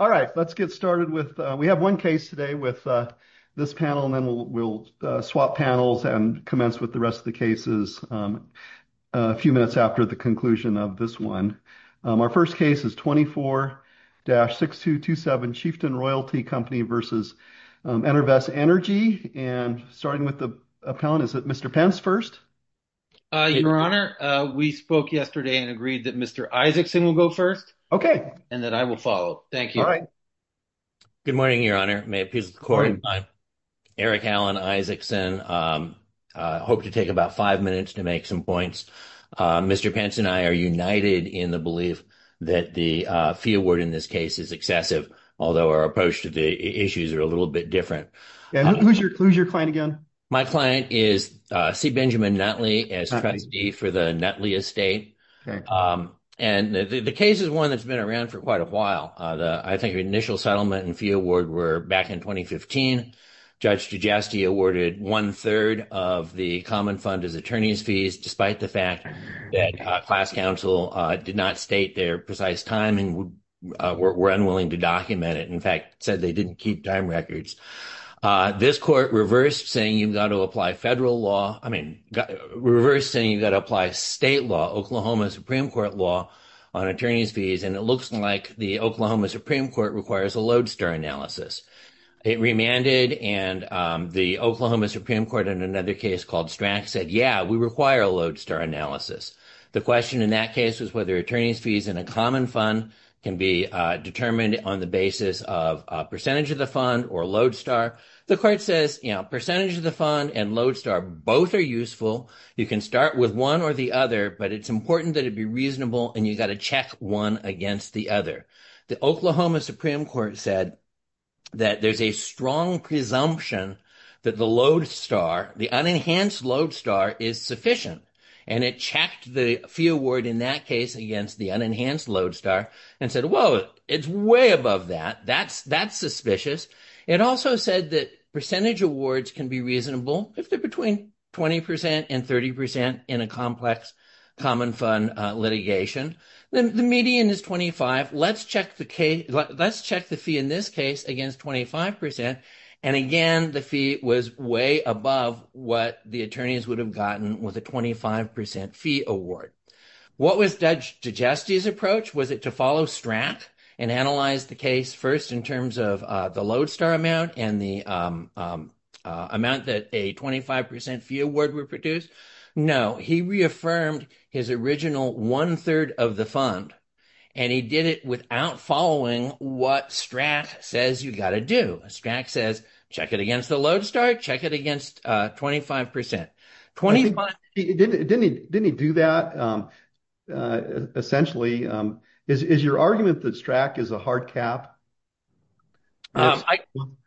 All right, let's get started. We have one case today with this panel and then we'll swap panels and commence with the rest of the cases a few minutes after the conclusion of this one. Our first case is 24-6227 Chieftain Royalty Company v. Enervest Energy. And starting with the appellant, is it Mr. Pence first? Your Honor, we spoke yesterday and agreed that Mr. Isaacson will go first. Okay. And then I will follow. Thank you. All right. Good morning, Your Honor. May it please the Court. Eric Allen Isaacson. I hope to take about five minutes to make some points. Mr. Pence and I are united in the belief that the fee award in this case is excessive, although our approach to the issues are a little bit different. Who's your client again? My client is C. Benjamin Nutley as trustee for the Nutley Estate. And the case is one that's been around for quite a while. I think the initial settlement and fee award were back in 2015. Judge Giusti awarded one-third of the common fund as attorney's fees, despite the fact that class counsel did not state their precise time and were unwilling to document it. In fact, said they didn't keep time records. This court reversed saying you've got to apply federal law. I mean, reversed saying you've got to apply state law, Oklahoma Supreme Court law, on attorney's fees. And it looks like the Oklahoma Supreme Court requires a lodestar analysis. It remanded and the Oklahoma Supreme Court in another case called Strack said, yeah, we require a lodestar analysis. The question in that case was whether attorney's fees in a common fund can be determined on the basis of a percentage of the fund or lodestar. The court says, you know, percentage of the fund and lodestar both are useful. You can start with one or the other, but it's important that it be reasonable and you got to check one against the other. The Oklahoma Supreme Court said that there's a strong presumption that the lodestar, the unenhanced lodestar, is sufficient. And it checked the fee award in that case against the unenhanced lodestar and said, well, it's way above that. That's suspicious. It also said that percentage awards can be reasonable if they're between 20% and 30% in a complex common fund litigation. Then the median is 25. Let's check the fee in this case against 25%. And again, the fee was way above what the attorneys would have gotten with a 25% fee award. What was Judge Digesti's approach? Was it to follow Strack and analyze the case first in terms of the lodestar amount and the amount that a 25% fee award would produce? No, he reaffirmed his original one-third of the fund and he did it without following what Strack says you got to do. Strack says, check it against the lodestar, check it against 25%. Didn't he do that? Essentially, is your argument that Strack is a hard cap?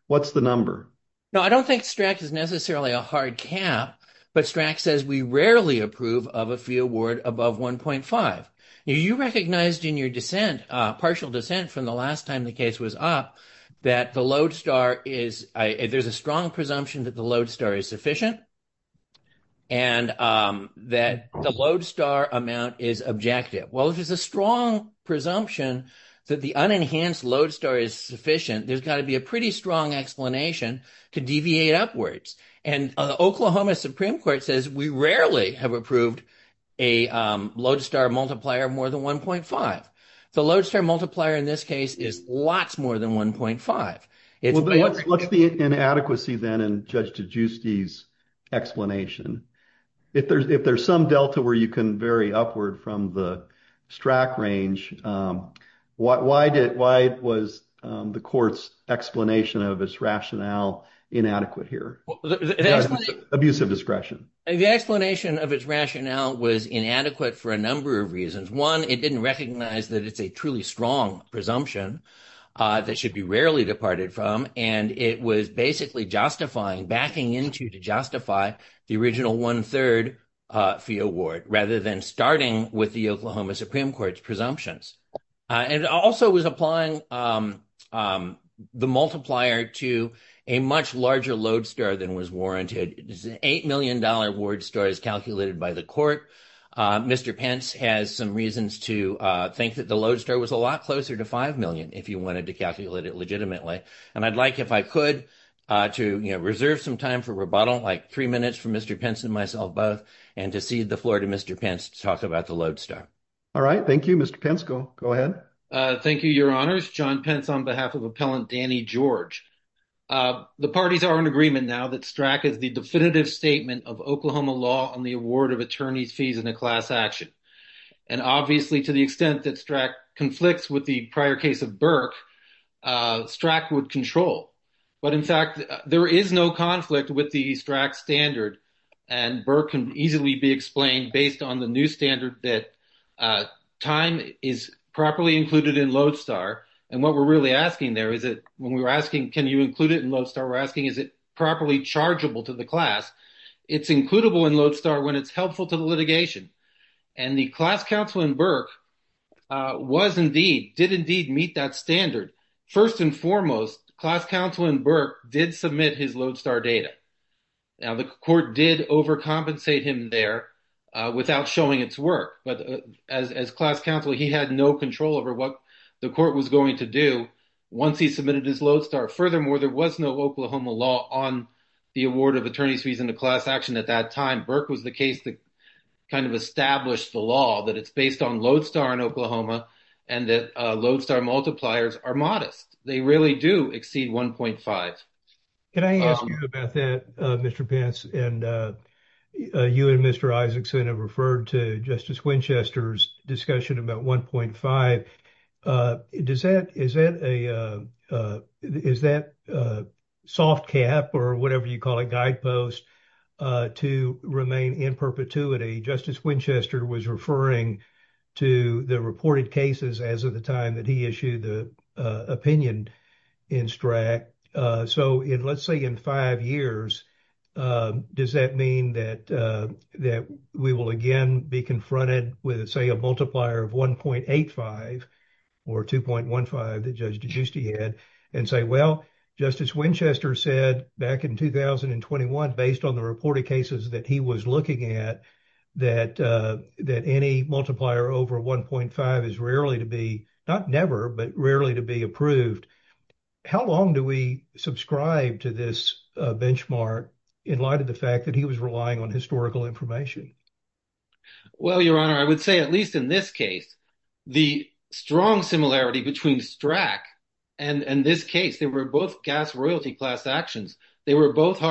What's the number? No, I don't think Strack is necessarily a hard cap, but Strack says we rarely approve of a fee award above 1.5. You recognized in your dissent, partial dissent from the last time the case was up, that there's a strong presumption that the lodestar is sufficient and that the lodestar amount is objective. Well, if there's a strong presumption that the unenhanced lodestar is sufficient, there's got to be a pretty strong explanation to deviate upwards. And the Oklahoma Supreme Court says we rarely have approved a lodestar multiplier more than 1.5. The lodestar multiplier in this case is lots more than 1.5. What's the inadequacy then in Judge DiGiusti's explanation? If there's some delta where you can vary upward from the Strack range, why was the court's explanation of its rationale inadequate here? Abusive discretion. The explanation of its rationale was inadequate for a number of reasons. One, it didn't recognize that it's a truly strong presumption that should be rarely departed from, and it was basically justifying, backing into to justify the original one-third fee award rather than starting with the Oklahoma Supreme Court's presumptions. And it also was applying the multiplier to a much larger lodestar than was warranted. It's an $8 million award story as calculated by the court. Mr. Pence has some reasons to think that the lodestar was a lot closer to $5 million if you wanted to calculate it legitimately. And I'd like, if I could, to reserve some time for rebuttal, like three minutes for Mr. Pence and myself both, and to cede the floor to Mr. Pence to talk about the lodestar. All right, thank you. Mr. Pence, go ahead. Thank you, Your Honors. John Pence on behalf of Appellant Danny George. The parties are in agreement now that Strack is the definitive statement of Oklahoma law on the award of attorney's fees in a class action. And obviously, to the extent that Strack conflicts with the prior case of Burke, Strack would control. But in fact, there is no conflict with the Strack standard, and Burke can easily be explained based on the new standard that time is properly included in lodestar. And what we're really asking there is that, when we were asking, can you include it in lodestar, we're asking, is it properly chargeable to the class? It's includable in lodestar when it's helpful to the litigation. And the class counsel in Burke was indeed, did indeed meet that standard. First and foremost, class counsel in Burke did submit his lodestar data. Now, the court did overcompensate him there without showing its work. But as class counsel, he had no control over what the court was going to do once he submitted his lodestar. Furthermore, there was no Oklahoma law on the award of attorney's fees in a class action at that time. Burke was the case that kind of established the law that it's based on lodestar in Oklahoma and that lodestar multipliers are modest. They really do exceed 1.5. Can I ask you about that, Mr. Pence? And you and Mr. Isaacson have referred to Justice Winchester's discussion about 1.5. Does that, is that a, is that a soft cap or whatever you call it, guidepost to remain in perpetuity? Justice Winchester was referring to the reported cases as of the time he issued the opinion in STRAC. So, let's say in five years, does that mean that we will again be confronted with, say, a multiplier of 1.85 or 2.15 that Judge Giusti had and say, well, Justice Winchester said back in 2021, based on the reported cases that he was looking at, that any multiplier over 1.5 is rarely to be, not never, but rarely to be approved. How long do we subscribe to this benchmark in light of the fact that he was relying on historical information? Well, Your Honor, I would say at least in this case, the strong similarity between STRAC and this case, they were both gas royalty class actions. They were both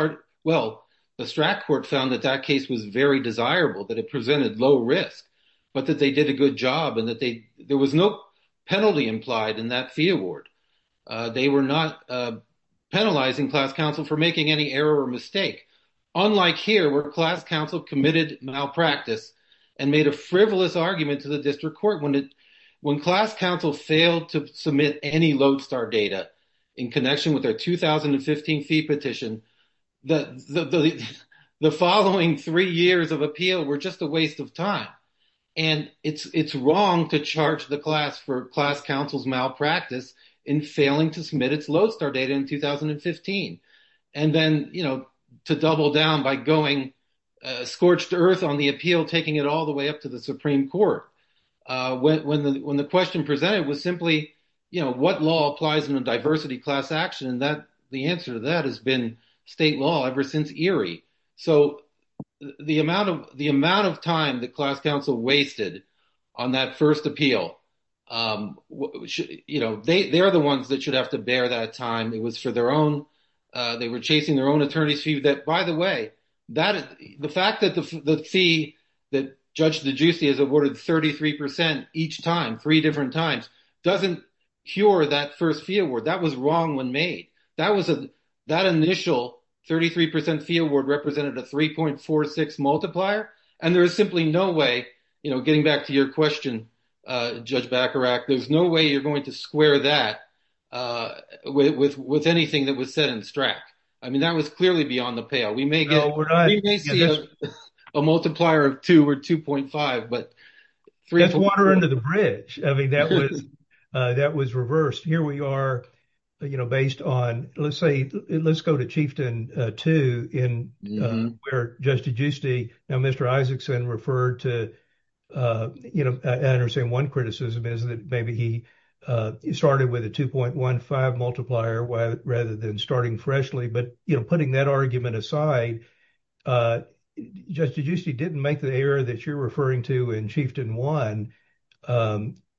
well, the STRAC court found that that case was very desirable, that it presented low risk, but that they did a good job and that there was no penalty implied in that fee award. They were not penalizing class counsel for making any error or mistake. Unlike here, where class counsel committed malpractice and made a frivolous argument to the district court. When class counsel failed to submit any Lodestar data in connection with their 2015 fee petition, the following three years of appeal were just a waste of time. And it's wrong to charge the class for class counsel's malpractice in failing to submit its Lodestar data in 2015. And then, you know, to double down by going scorched earth on the appeal, taking it all the way up to the Supreme Court. When the question presented was simply, you know, what law applies in a diversity class action, the answer to that has been state law ever since Erie. So, the amount of time that class counsel wasted on that first appeal, you know, they're the ones that should have to bear that time. It was for their own, they were chasing their own attorney's fee that, by the way, the fact that the fee that Judge DeGiussi has awarded 33% each time, three different times, doesn't cure that first fee award. That was wrong when made. That was a, that initial 33% fee award represented a 3.46 multiplier. And there is simply no way, you know, getting back to your question, Judge Bacharach, there's no way you're going to square that with anything that was set in strack. I mean, that was clearly beyond the payout. We may get a multiplier of two or 2.5, but 3.44. That's water under the bridge. I mean, that was, that was reversed. Here we are, you know, based on, let's say, let's go to Chieftain 2 in where Judge DeGiussi, now Mr. Isaacson referred to, you know, I understand one criticism is that maybe he started with a 2.15 multiplier rather than starting freshly. But, you know, putting that argument aside, Judge DeGiussi didn't make the error that you're referring to in Chieftain 1.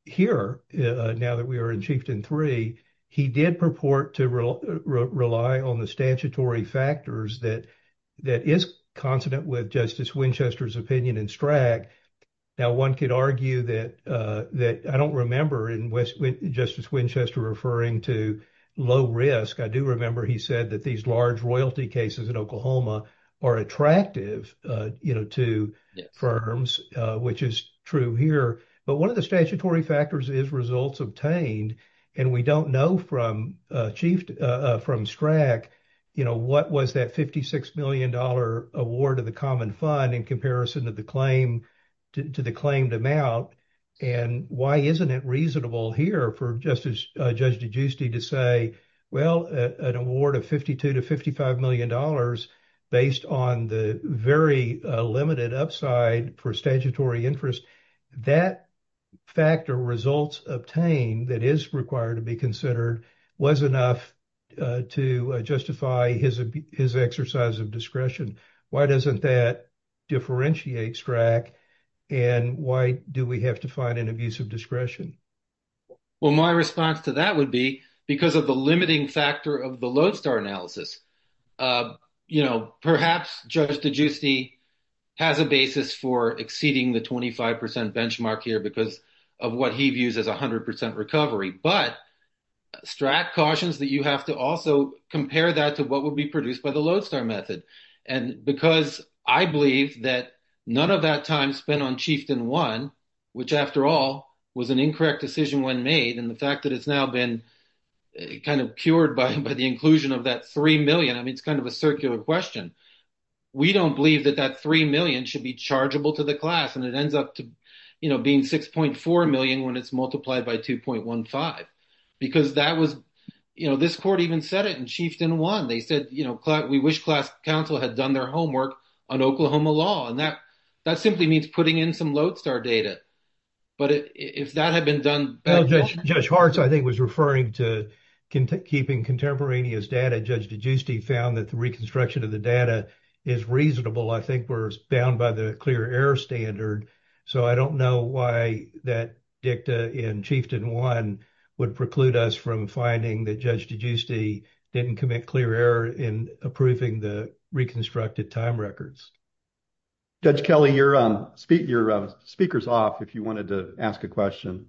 Here, now that we are in Chieftain 3, he did purport to rely on the statutory factors that is consonant with Justice Winchester's opinion in strack. Now one could argue that, that I don't remember in West, Justice Winchester referring to low risk. I do remember he said that these large royalty cases in Oklahoma are attractive, you know, to firms, which is true here. But one of the statutory factors is results obtained. And we don't know from Chief, from Strack, you know, what was that $56 million award of the common fund in comparison to the claim, to the claimed amount. And why isn't it reasonable here for Justice, Judge DeGiussi to say, well, an award of $52 to $55 million, based on the very limited upside for statutory interest, that factor results obtained that is required to be considered was enough to justify his exercise of discretion. Why doesn't that differentiate Strack? And why do we have an abuse of discretion? Well, my response to that would be because of the limiting factor of the Lodestar analysis. You know, perhaps Judge DeGiussi has a basis for exceeding the 25% benchmark here because of what he views as 100% recovery. But Strack cautions that you have to also compare that to what would be produced by the Lodestar method. And because I believe that none of that time spent on Chieftain 1, which after all, was an incorrect decision when made, and the fact that it's now been kind of cured by the inclusion of that $3 million, I mean, it's kind of a circular question. We don't believe that that $3 million should be chargeable to the class. And it ends up to, you know, being $6.4 million when it's multiplied by $2.15. Because that was, you know, this court even said it in Chieftain 1. They said, you know, we wish class counsel had done their homework on Oklahoma law. And that simply means putting in some Lodestar data. But if that had been done... Well, Judge Hartz, I think, was referring to keeping contemporaneous data. Judge DeGiussi found that the reconstruction of the data is reasonable. I think we're bound by the clear error standard. So I don't know why that dicta in Chieftain 1 would preclude us from finding that Judge DeGiussi didn't commit clear error in approving the reconstructed time records. Judge Kelly, your speaker's off if you wanted to ask a question.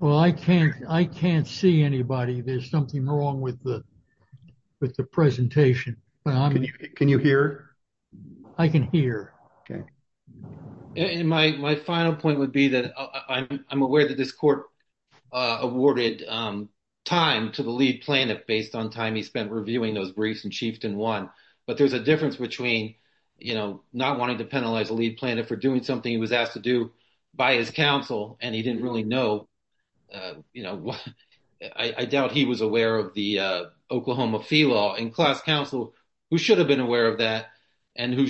Well, I can't see anybody. There's something wrong with the presentation. Can you hear? I can hear. Okay. And my final point would be that I'm aware that this court awarded time to the lead plaintiff based on time he spent reviewing those briefs in Chieftain 1. But there's a difference between, you know, not wanting to penalize a lead plaintiff for doing something he was asked to do by his counsel. And he didn't really know, you know, I doubt he was aware of the Oklahoma fee law. And class counsel who should have been aware of that and who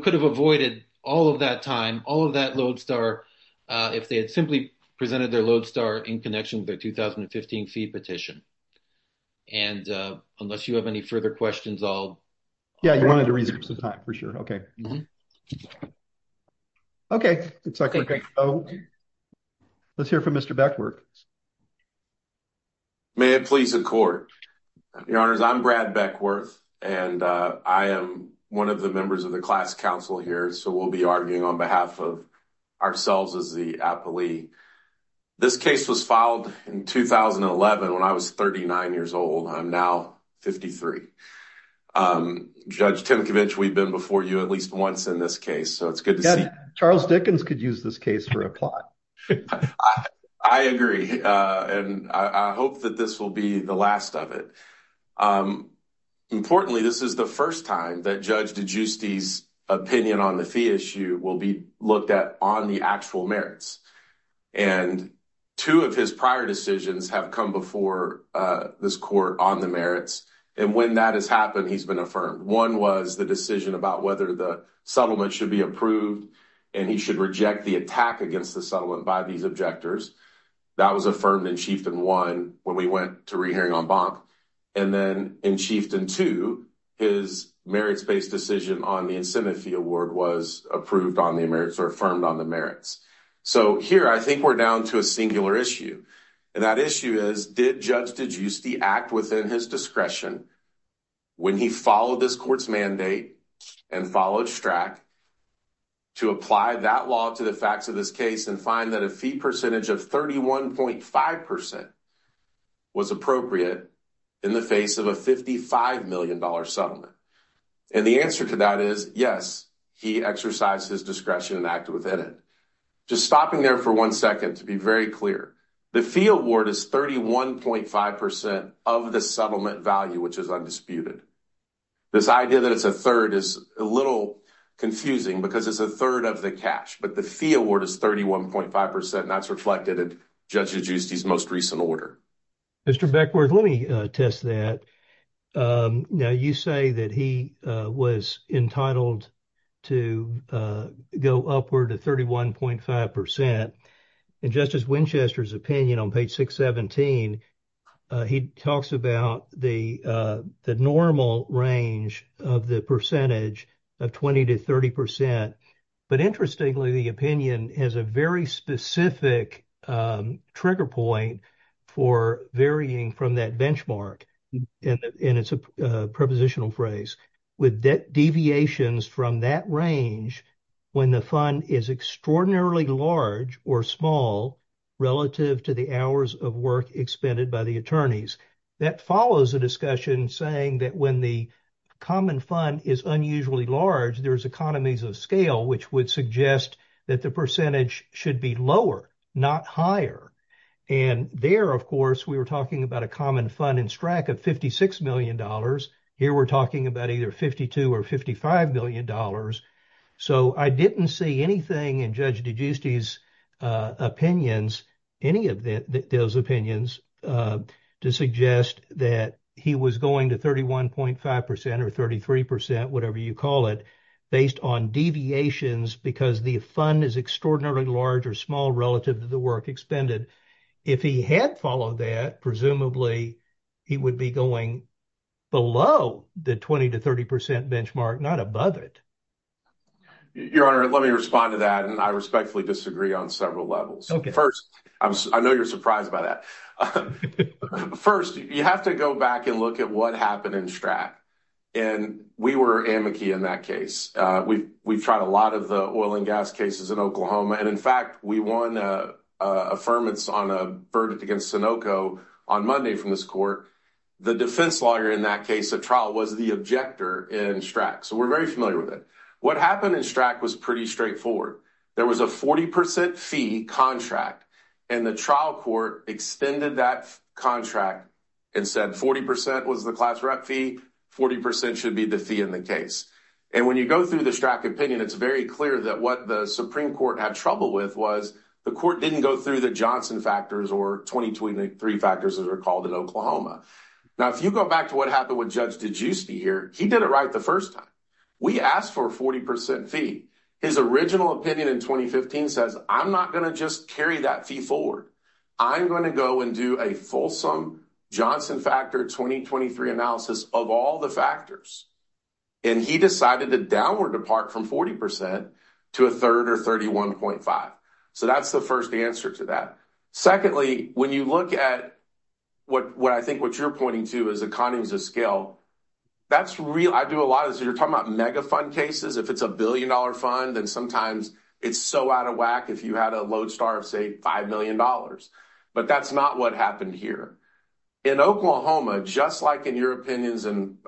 could have avoided all of that time, all of that Lodestar if they had simply presented their Lodestar in connection with their 2015 fee petition. And unless you have any further questions, I'll... Yeah, you wanted to read the time for sure. Okay. Okay. Let's hear from Mr. Beckworth. May it please the court. Your honors, I'm Brad Beckworth, and I am one of the members of the class counsel here. So we'll be arguing on behalf of ourselves as the appellee. This case was filed in 2011 when I was 39 years old. I'm now 53. Judge Tinkovich, we've been before you at least once in this case. So it's good to see... Charles Dickens could use this case for a plot. I agree. And I hope that this will be the last of it. Importantly, this is the first time that Judge DiGiusti's opinion on the fee issue will be looked at on the actual merits. And two of his prior decisions have come before this court on the merits. And when that has happened, he's been affirmed. One was the decision about whether the settlement should be approved and he should reject the attack against the settlement by these objectors. That was affirmed in Chieftain 1 when we went to re-hearing on BOMP. And then in Chieftain 2, his merits-based decision on the incentive fee award was approved on the merits or affirmed on the merits. So here, I think we're down to a singular issue. And that issue is, did Judge DiGiusti act within his discretion when he followed this court's mandate and followed STRAC to apply that law to the facts of this case and find that a fee percentage of 31.5% was appropriate in the face of a $55 million settlement? And the answer to that is, yes, he exercised his discretion and acted within it. Just stopping there for one second to be very clear. The fee award is 31.5% of the settlement value, which is undisputed. This idea that it's a third is a little confusing because it's a third of the cash. But the fee award is 31.5%, and that's reflected in Judge DiGiusti's most recent order. Mr. Beckworth, let me test that. Now, you say that he was entitled to go upward to 31.5%. In Justice Winchester's opinion on page 617, he talks about the normal range of the percentage of 20 to 30%. But interestingly, the opinion has a very specific trigger point for varying from that benchmark, and it's a prepositional phrase, with debt deviations from that range when the fund is extraordinarily large or small relative to the hours of work expended by the attorneys. That follows a discussion saying that when the common fund is unusually large, there's economies of scale, which would suggest that the percentage should be lower, not higher. And there, of course, we were talking about a common fund in STRAC of $56 million. Here, we're talking about either $52 or $55 million. So I didn't see anything in Judge DiGiusti's opinions, any of those opinions, to suggest that he was going to 31.5% or 33%, whatever you call it, based on deviations because the fund is extraordinarily large or small relative to the work expended. If he had followed that, presumably, he would be going below the 20 to 30% benchmark, not above it. Your Honor, let me respond to that, and I respectfully disagree on several levels. First, I know you're surprised by that. First, you have to go back and look at what happened in STRAC, and we were amici in that case. We've tried a lot of the oil and gas cases in Oklahoma, and in fact, we won affirmance on a verdict against Sunoco on Monday from this court. The defense lawyer in that case, at trial, was the objector in STRAC, so we're very familiar with it. What happened in STRAC was pretty straightforward. There was a 40% fee contract, and the trial court extended that contract and said 40% was the class rep fee, 40% should be the fee in the case. When you go through the STRAC opinion, it's very clear that what the Supreme Court had trouble with was the court didn't go through the Johnson factors or 2023 factors, as they're called in Oklahoma. Now, if you go back to what happened with Judge DiGiusti here, he did it right the first time. We asked for a 40% fee. His original opinion in 2015 says, I'm not going to just carry that fee forward. I'm going to go and do a fulsome Johnson factor 2023 analysis of all the factors, and he decided to downward depart from 40% to a third or 31.5, so that's the first answer to that. Secondly, when you look at what I think what you're pointing to as economies of scale, that's real. I do a lot of this. You're talking about mega fund cases. If it's a billion-dollar fund, then sometimes it's so out of whack if you had a lodestar of, say, $5 million, but that's not what happened here. In Oklahoma, just like in your opinions, and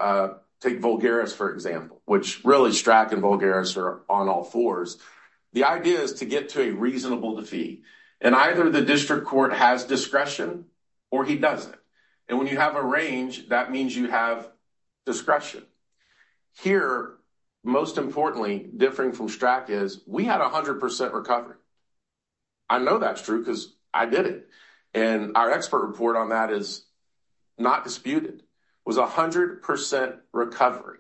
take Vulgaris, for example, which really STRAC and Vulgaris are on all fours, the idea is to get to a reasonable defeat, and either the district court has discretion or he doesn't, and when you have a range, that means you have discretion. Here, most importantly, differing from STRAC is we had 100% recovery. I know that's true because I did it, and our expert report on that is not disputed. It was 100% recovery.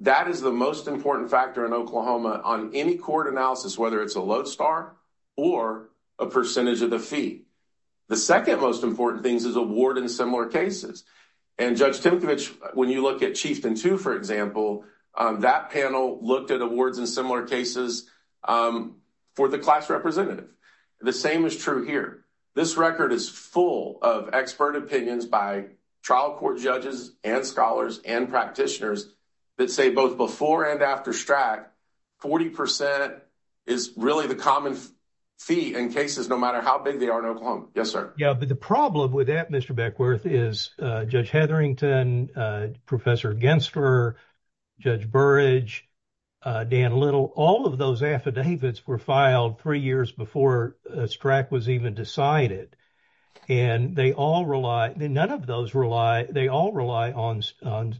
That is the most important factor in Oklahoma on any court analysis, whether it's a lodestar or a percentage of the fee. The second most important thing is award in similar cases, and Judge Timkovich, when you look at Chieftain 2, for example, that panel looked at awards in similar cases for the class representative. The same is true here. This record is full of expert opinions by trial court judges and scholars and practitioners that say both before and after STRAC, 40% is really the common fee in cases, no matter how big they are in Oklahoma. Yes, sir. Yeah, but the problem with that, Mr. Beckworth, is Judge Hetherington, Professor Gensler, Judge Burrage, Dan Little, all of those affidavits were filed three years before STRAC was even decided, and they all rely, none of those rely, they all rely on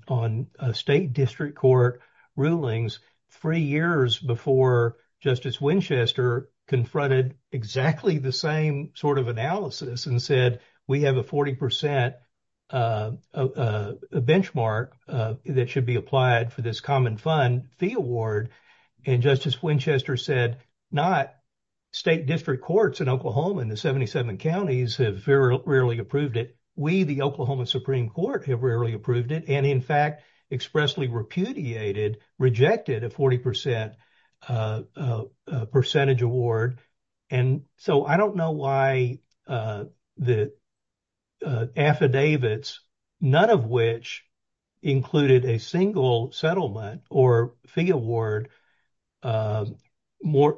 on state district court rulings three years before Justice Winchester confronted exactly the same sort of analysis and said, we have a 40% benchmark that should be applied for this common fund fee award. And Justice Winchester said, not state district courts in Oklahoma in the 77 counties have very rarely approved it. We, the Oklahoma Supreme Court, have rarely approved it. And in fact, expressly repudiated, rejected a 40% percentage award. And so I don't know why the affidavits, none of which included a single settlement or fee award more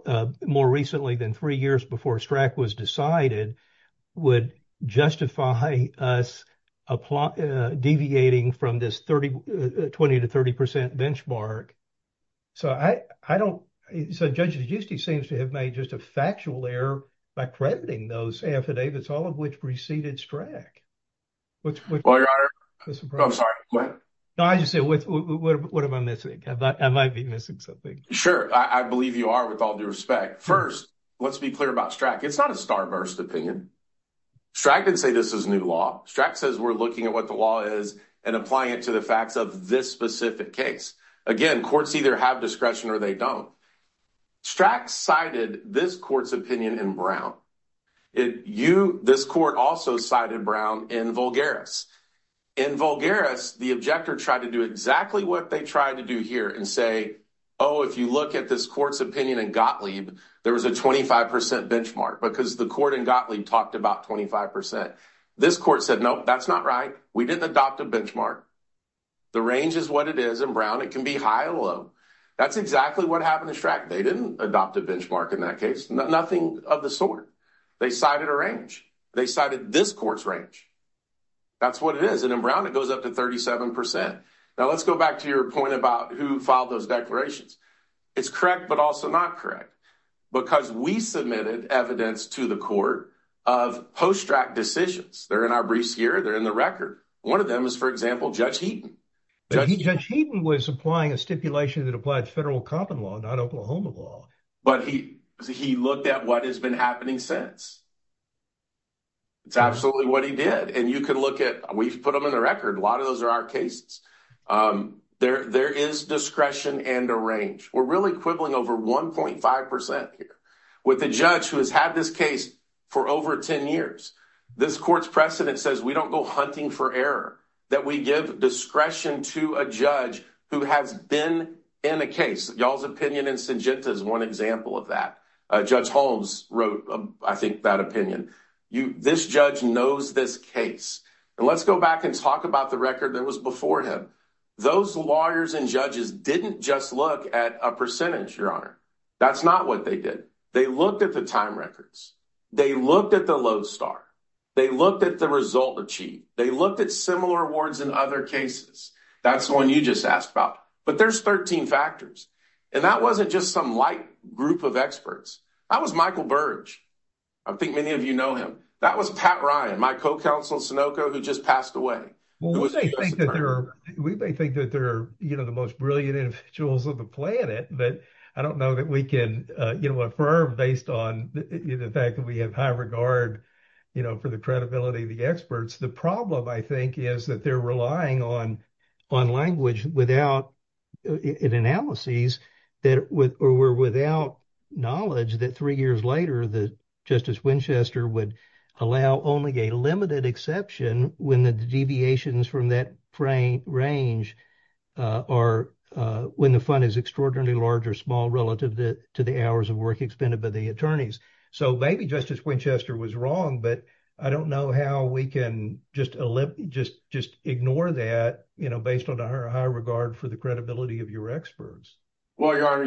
recently than three years before STRAC was decided, would justify us deviating from this 30, 20 to 30% benchmark. So I don't, so Judge Giusti seems to have made just a factual error by crediting those affidavits, all of which preceded STRAC. Well, Your Honor, I'm sorry, what? No, I just said, what am I missing? I might be missing something. Sure, I believe you are with all due respect. First, let's be clear about STRAC. It's not a starburst opinion. STRAC didn't say this is new law. STRAC says we're looking at what the law is and applying it to the facts of this specific case. Again, courts either have discretion or they don't. STRAC cited this court's opinion in Brown. This court also cited Brown in Vulgaris. In Vulgaris, the objector tried to do exactly what they tried to do here and say, oh, if you look at this court's opinion in Gottlieb, there was a 25% benchmark because the court in Gottlieb talked about 25%. This court said, nope, that's not right. We didn't adopt a benchmark. The range is what it is in Brown. It can be high or low. That's exactly what happened to STRAC. They didn't adopt a benchmark in that case, nothing of the sort. They cited a range. They cited this court's range. That's what it is. In Brown, it goes up to 37%. Now, let's go back to your point about who filed those declarations. It's correct but also not correct because we submitted evidence to the court of post-STRAC decisions. They're in our briefs here. They're in the record. One of them is, for example, Judge Heaton. Judge Heaton was applying a stipulation that applied federal common law, not Oklahoma law. But he looked at what has been happening since. It's absolutely what he did. And you can look at, we've put them in the record. A lot of those are our cases. There is discretion and a range. We're really quibbling over 1.5% here. With a judge who has had this case for over 10 years, this court's precedent says we don't go hunting for error, that we give discretion to a judge who has been in a case. Y'all's opinion in Syngenta is one example of that. Judge Holmes wrote, I think, that opinion. This judge knows this case. And let's go back and talk about the record that was before him. Those lawyers and judges didn't just look at a percentage, Your Honor. That's not what they did. They looked at the time records. They looked at the load star. They looked at the result achieved. They looked at similar awards in other cases. That's the one you just asked about. But there's 13 factors. And that wasn't just some light group of experts. That was Michael Burge. I think many of you know him. That was Pat Ryan, my co-counsel at Sunoco, who just passed away. We may think that they're the most brilliant individuals on the planet, but I don't know that we can affirm based on the fact that we have high regard for the credibility of the experts. The were without knowledge that three years later that Justice Winchester would allow only a limited exception when the deviations from that range are when the fund is extraordinarily large or small relative to the hours of work expended by the attorneys. So maybe Justice Winchester was wrong, but I don't know how we can just ignore that based on our high regard for the credibility of your Well, Your Honor,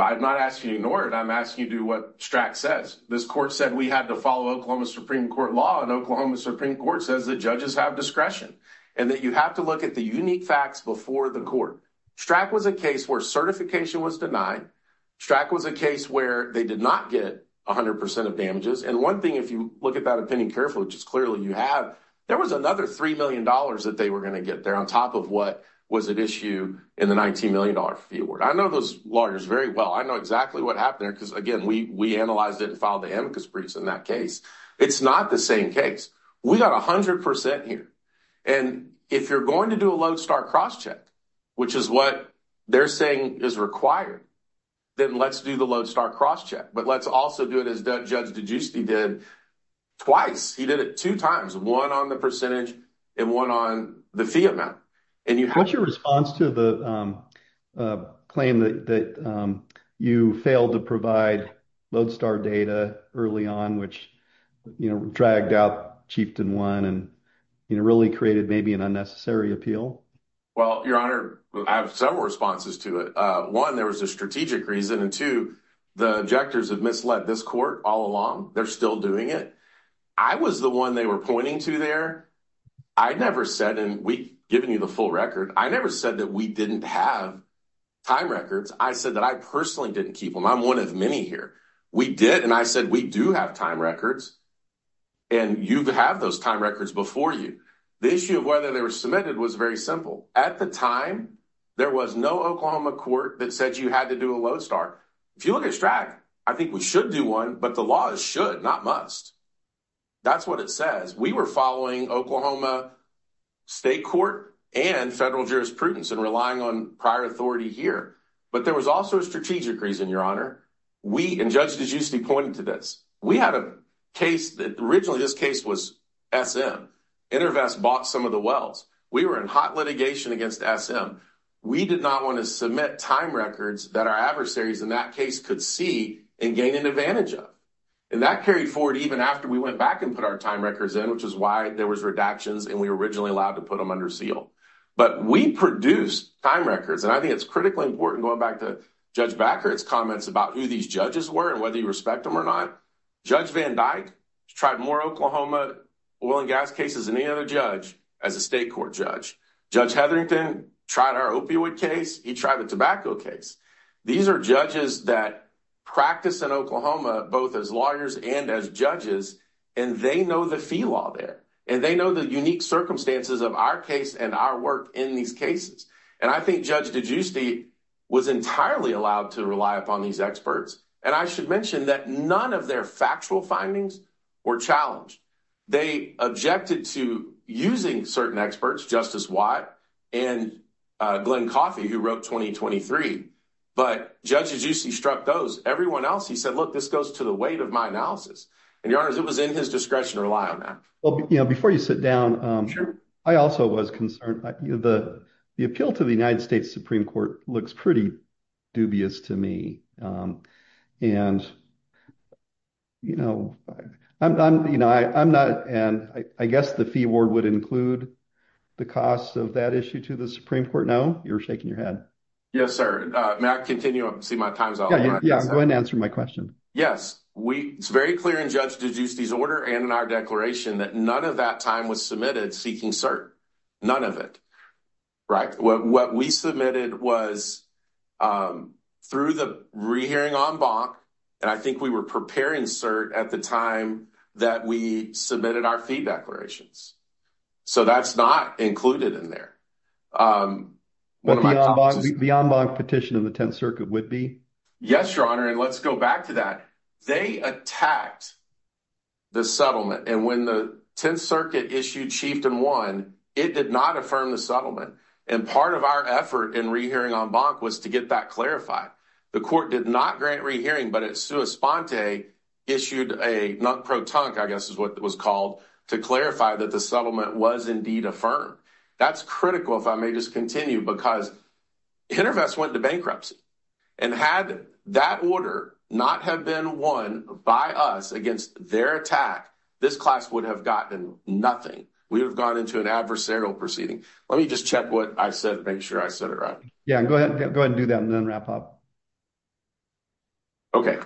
I'm not asking you to ignore it. I'm asking you to do what Strack says. This court said we had to follow Oklahoma Supreme Court law, and Oklahoma Supreme Court says that judges have discretion and that you have to look at the unique facts before the court. Strack was a case where certification was denied. Strack was a case where they did not get 100% of damages. And one thing, if you look at that opinion carefully, which is clearly you have, there was another $3 million that they were going to get there on top of what was at issue in the $19 million fee award. I know those lawyers very well. I know exactly what happened there because, again, we analyzed it and filed the amicus briefs in that case. It's not the same case. We got 100% here. And if you're going to do a lodestar crosscheck, which is what they're saying is required, then let's do the lodestar crosscheck. But let's also do it as Judge DiGiusti did twice. He did it two times, one on the percentage and one on the fee amount. And you had your response to the claim that you failed to provide lodestar data early on, which, you know, dragged out Chieftain One and, you know, really created maybe an unnecessary appeal. Well, Your Honor, I have several responses to it. One, there was a strategic reason. And two, the objectors have misled this court all along. They're still doing it. I was the one they were to there. I never said, and we've given you the full record, I never said that we didn't have time records. I said that I personally didn't keep them. I'm one of many here. We did. And I said, we do have time records. And you have those time records before you. The issue of whether they were submitted was very simple. At the time, there was no Oklahoma court that said you had to do a lodestar. If you look at STRAC, I think we should do one, but the law should not must. That's what it says. We were following Oklahoma state court and federal jurisprudence and relying on prior authority here. But there was also a strategic reason, Your Honor. We, and Judge DiGiusti pointed to this. We had a case that originally this case was SM. InterVest bought some of the wells. We were in hot litigation against SM. We did not want to submit time records that our adversaries in that case could see and gain an advantage of. And that carried forward even after we went back and put our time records in, which is why there was redactions and we were originally allowed to put them under seal. But we produce time records. And I think it's critically important going back to Judge Backert's comments about who these judges were and whether you respect them or not. Judge Van Dyke tried more Oklahoma oil and gas cases than any other judge as a state court judge. Judge Hetherington tried our opioid case. He tried the tobacco case. These are judges that practice in Oklahoma, both as lawyers and as judges, and they know the fee law there, and they know the unique circumstances of our case and our work in these cases. And I think Judge DiGiusti was entirely allowed to rely upon these experts. And I should mention that none of their factual findings were challenged. They objected to using certain experts, Justice Watt and Glenn Coffey, who wrote 2023. But Judge DiGiusti struck those. Everyone else, he said, look, this goes to the weight of my analysis. And, Your Honor, it was in his discretion to rely on that. Well, before you sit down, I also was concerned. The appeal to the United States Supreme Court looks pretty dubious to me. And I guess the fee award would include the cost of that issue to the Supreme Court. No? You're shaking your head. Yes, sir. May I continue? I see my time's up. Yeah, go ahead and answer my question. Yes. It's very clear in Judge DiGiusti's order and in our declaration that none of that time was submitted seeking cert. None of it, right? What we submitted was through the rehearing en banc, and I think we were preparing cert at the time that we submitted our fee declarations. So that's not included in there. But the en banc petition in the Tenth Circuit would be? Yes, Your Honor. And let's go back to that. They attacked the settlement. And when the Tenth Circuit issued Chieftain 1, it did not affirm the settlement. And part of our effort in rehearing en banc was to get that clarified. The court did not grant rehearing, but it's a non-pro tonic, I guess is what it was called, to clarify that the settlement was indeed affirmed. That's critical, if I may just continue, because InterVest went to bankruptcy. And had that order not have been won by us against their attack, this class would have gotten nothing. We would have gone into an adversarial proceeding. Let me just check what I said to make sure I said it right. Yeah, go ahead and do that and then wrap up. Okay,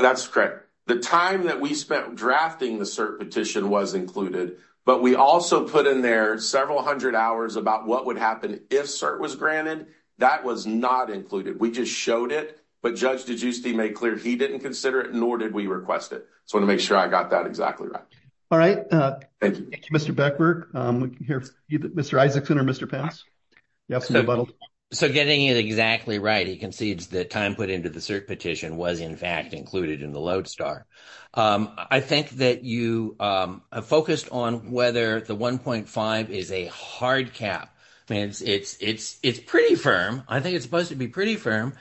that's correct. The time that we spent drafting the cert petition was included, but we also put in there several hundred hours about what would happen if cert was granted. That was not included. We just showed it, but Judge DeGiusti made clear he didn't consider it, nor did we request it. So I want to make sure I got that exactly right. All right. Thank you, Mr. Beckberg. Mr. Isaacson or Mr. Pence? So getting it exactly right, he concedes the time put into the cert petition was in fact included in the lodestar. I think that you focused on whether the 1.5 is a hard cap. I mean, it's pretty firm. I think it's supposed to be pretty firm.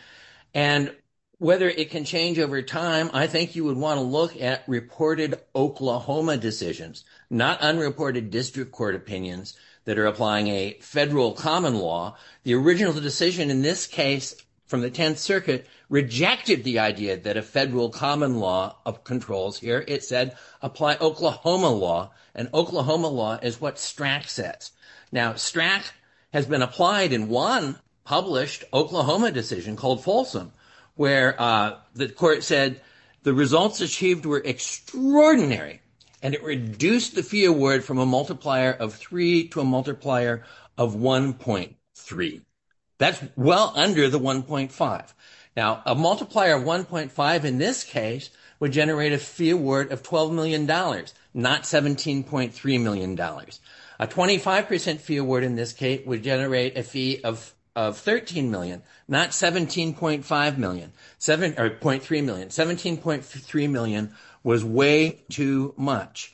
And whether it can change over time, I think you would want to look at reported Oklahoma decisions, not unreported district court opinions that are applying a federal common law. The original decision in this case from the 10th Circuit rejected the idea that a federal common law controls here. It said apply Oklahoma law, and Oklahoma law is what Strack says. Now, Strack has been applied in one published Oklahoma decision called Folsom, where the court said the results achieved were extraordinary, and it reduced the fee award from a multiplier of 3 to a multiplier of 1.3. That's well under the 1.5. Now, a multiplier of 1.5 in this case would generate a fee award of $12 million, not $17.3 A 25% fee award in this case would generate a fee of $13 million, not $17.3 million. $17.3 million was way too much.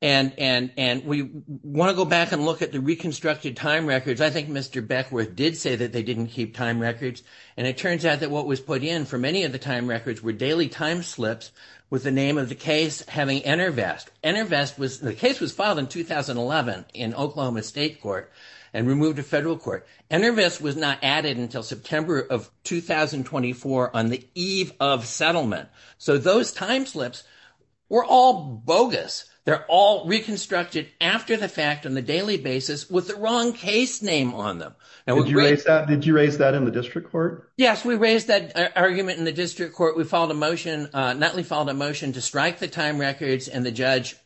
And we want to go back and look at the reconstructed time records. I think Mr. Beckworth did say that they didn't keep time records, and it turns out that what was put in for many of the time records were daily time slips with the name of the case having enervest. The case was filed in 2011 in Oklahoma State Court and removed to federal court. Enervest was not added until September of 2024 on the eve of settlement. So those time slips were all bogus. They're all reconstructed after the fact on the daily basis with the wrong case name on them. Did you raise that in the district court? Yes, we raised that argument in the district court. We followed a motion. Nutley followed a motion to strike the records and the judge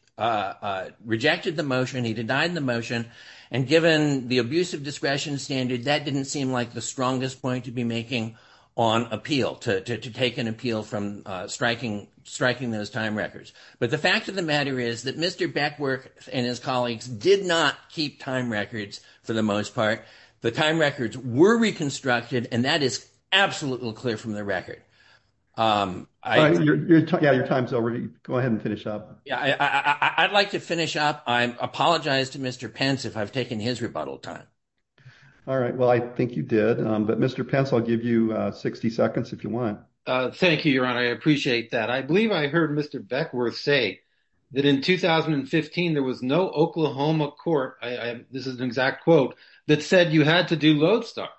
rejected the motion. He denied the motion. And given the abuse of discretion standard, that didn't seem like the strongest point to be making on appeal, to take an appeal from striking those time records. But the fact of the matter is that Mr. Beckworth and his colleagues did not keep time records for the most part. The time records were reconstructed, that is absolutely clear from the record. Your time's over. Go ahead and finish up. I'd like to finish up. I apologize to Mr. Pence if I've taken his rebuttal time. All right. Well, I think you did. But Mr. Pence, I'll give you 60 seconds if you want. Thank you, Your Honor. I appreciate that. I believe I heard Mr. Beckworth say that in 2015, there was no Oklahoma court, this is an exact quote, that said you had to do Lodestar.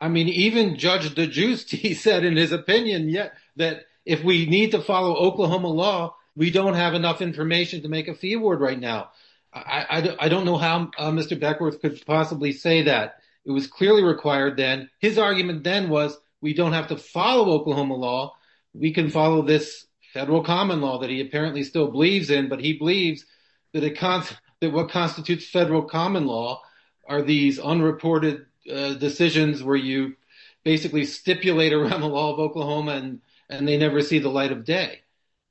I mean, even Judge DeGiusti said in his opinion that if we need to follow Oklahoma law, we don't have enough information to make a fee award right now. I don't know how Mr. Beckworth could possibly say that. It was clearly required then. His argument then was we don't have to follow Oklahoma law. We can follow this federal common law that he apparently still believes in. He believes that what constitutes federal common law are these unreported decisions where you basically stipulate around the law of Oklahoma, and they never see the light of day.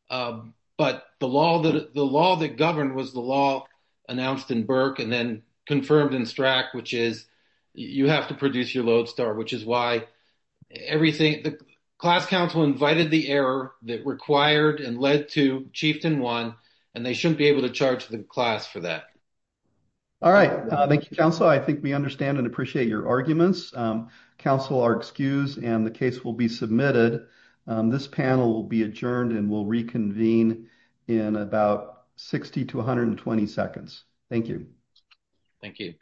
The law that governed was the law announced in Burke and then confirmed in Strack, which is you have to produce your Lodestar, which is why the class counsel invited the error that required and led to Chieftain 1, and they shouldn't be able to charge the class for that. All right. Thank you, counsel. I think we understand and appreciate your arguments. Counsel are excused, and the case will be submitted. This panel will be adjourned, and we'll reconvene in about 60 to 120 seconds. Thank you. Thank you.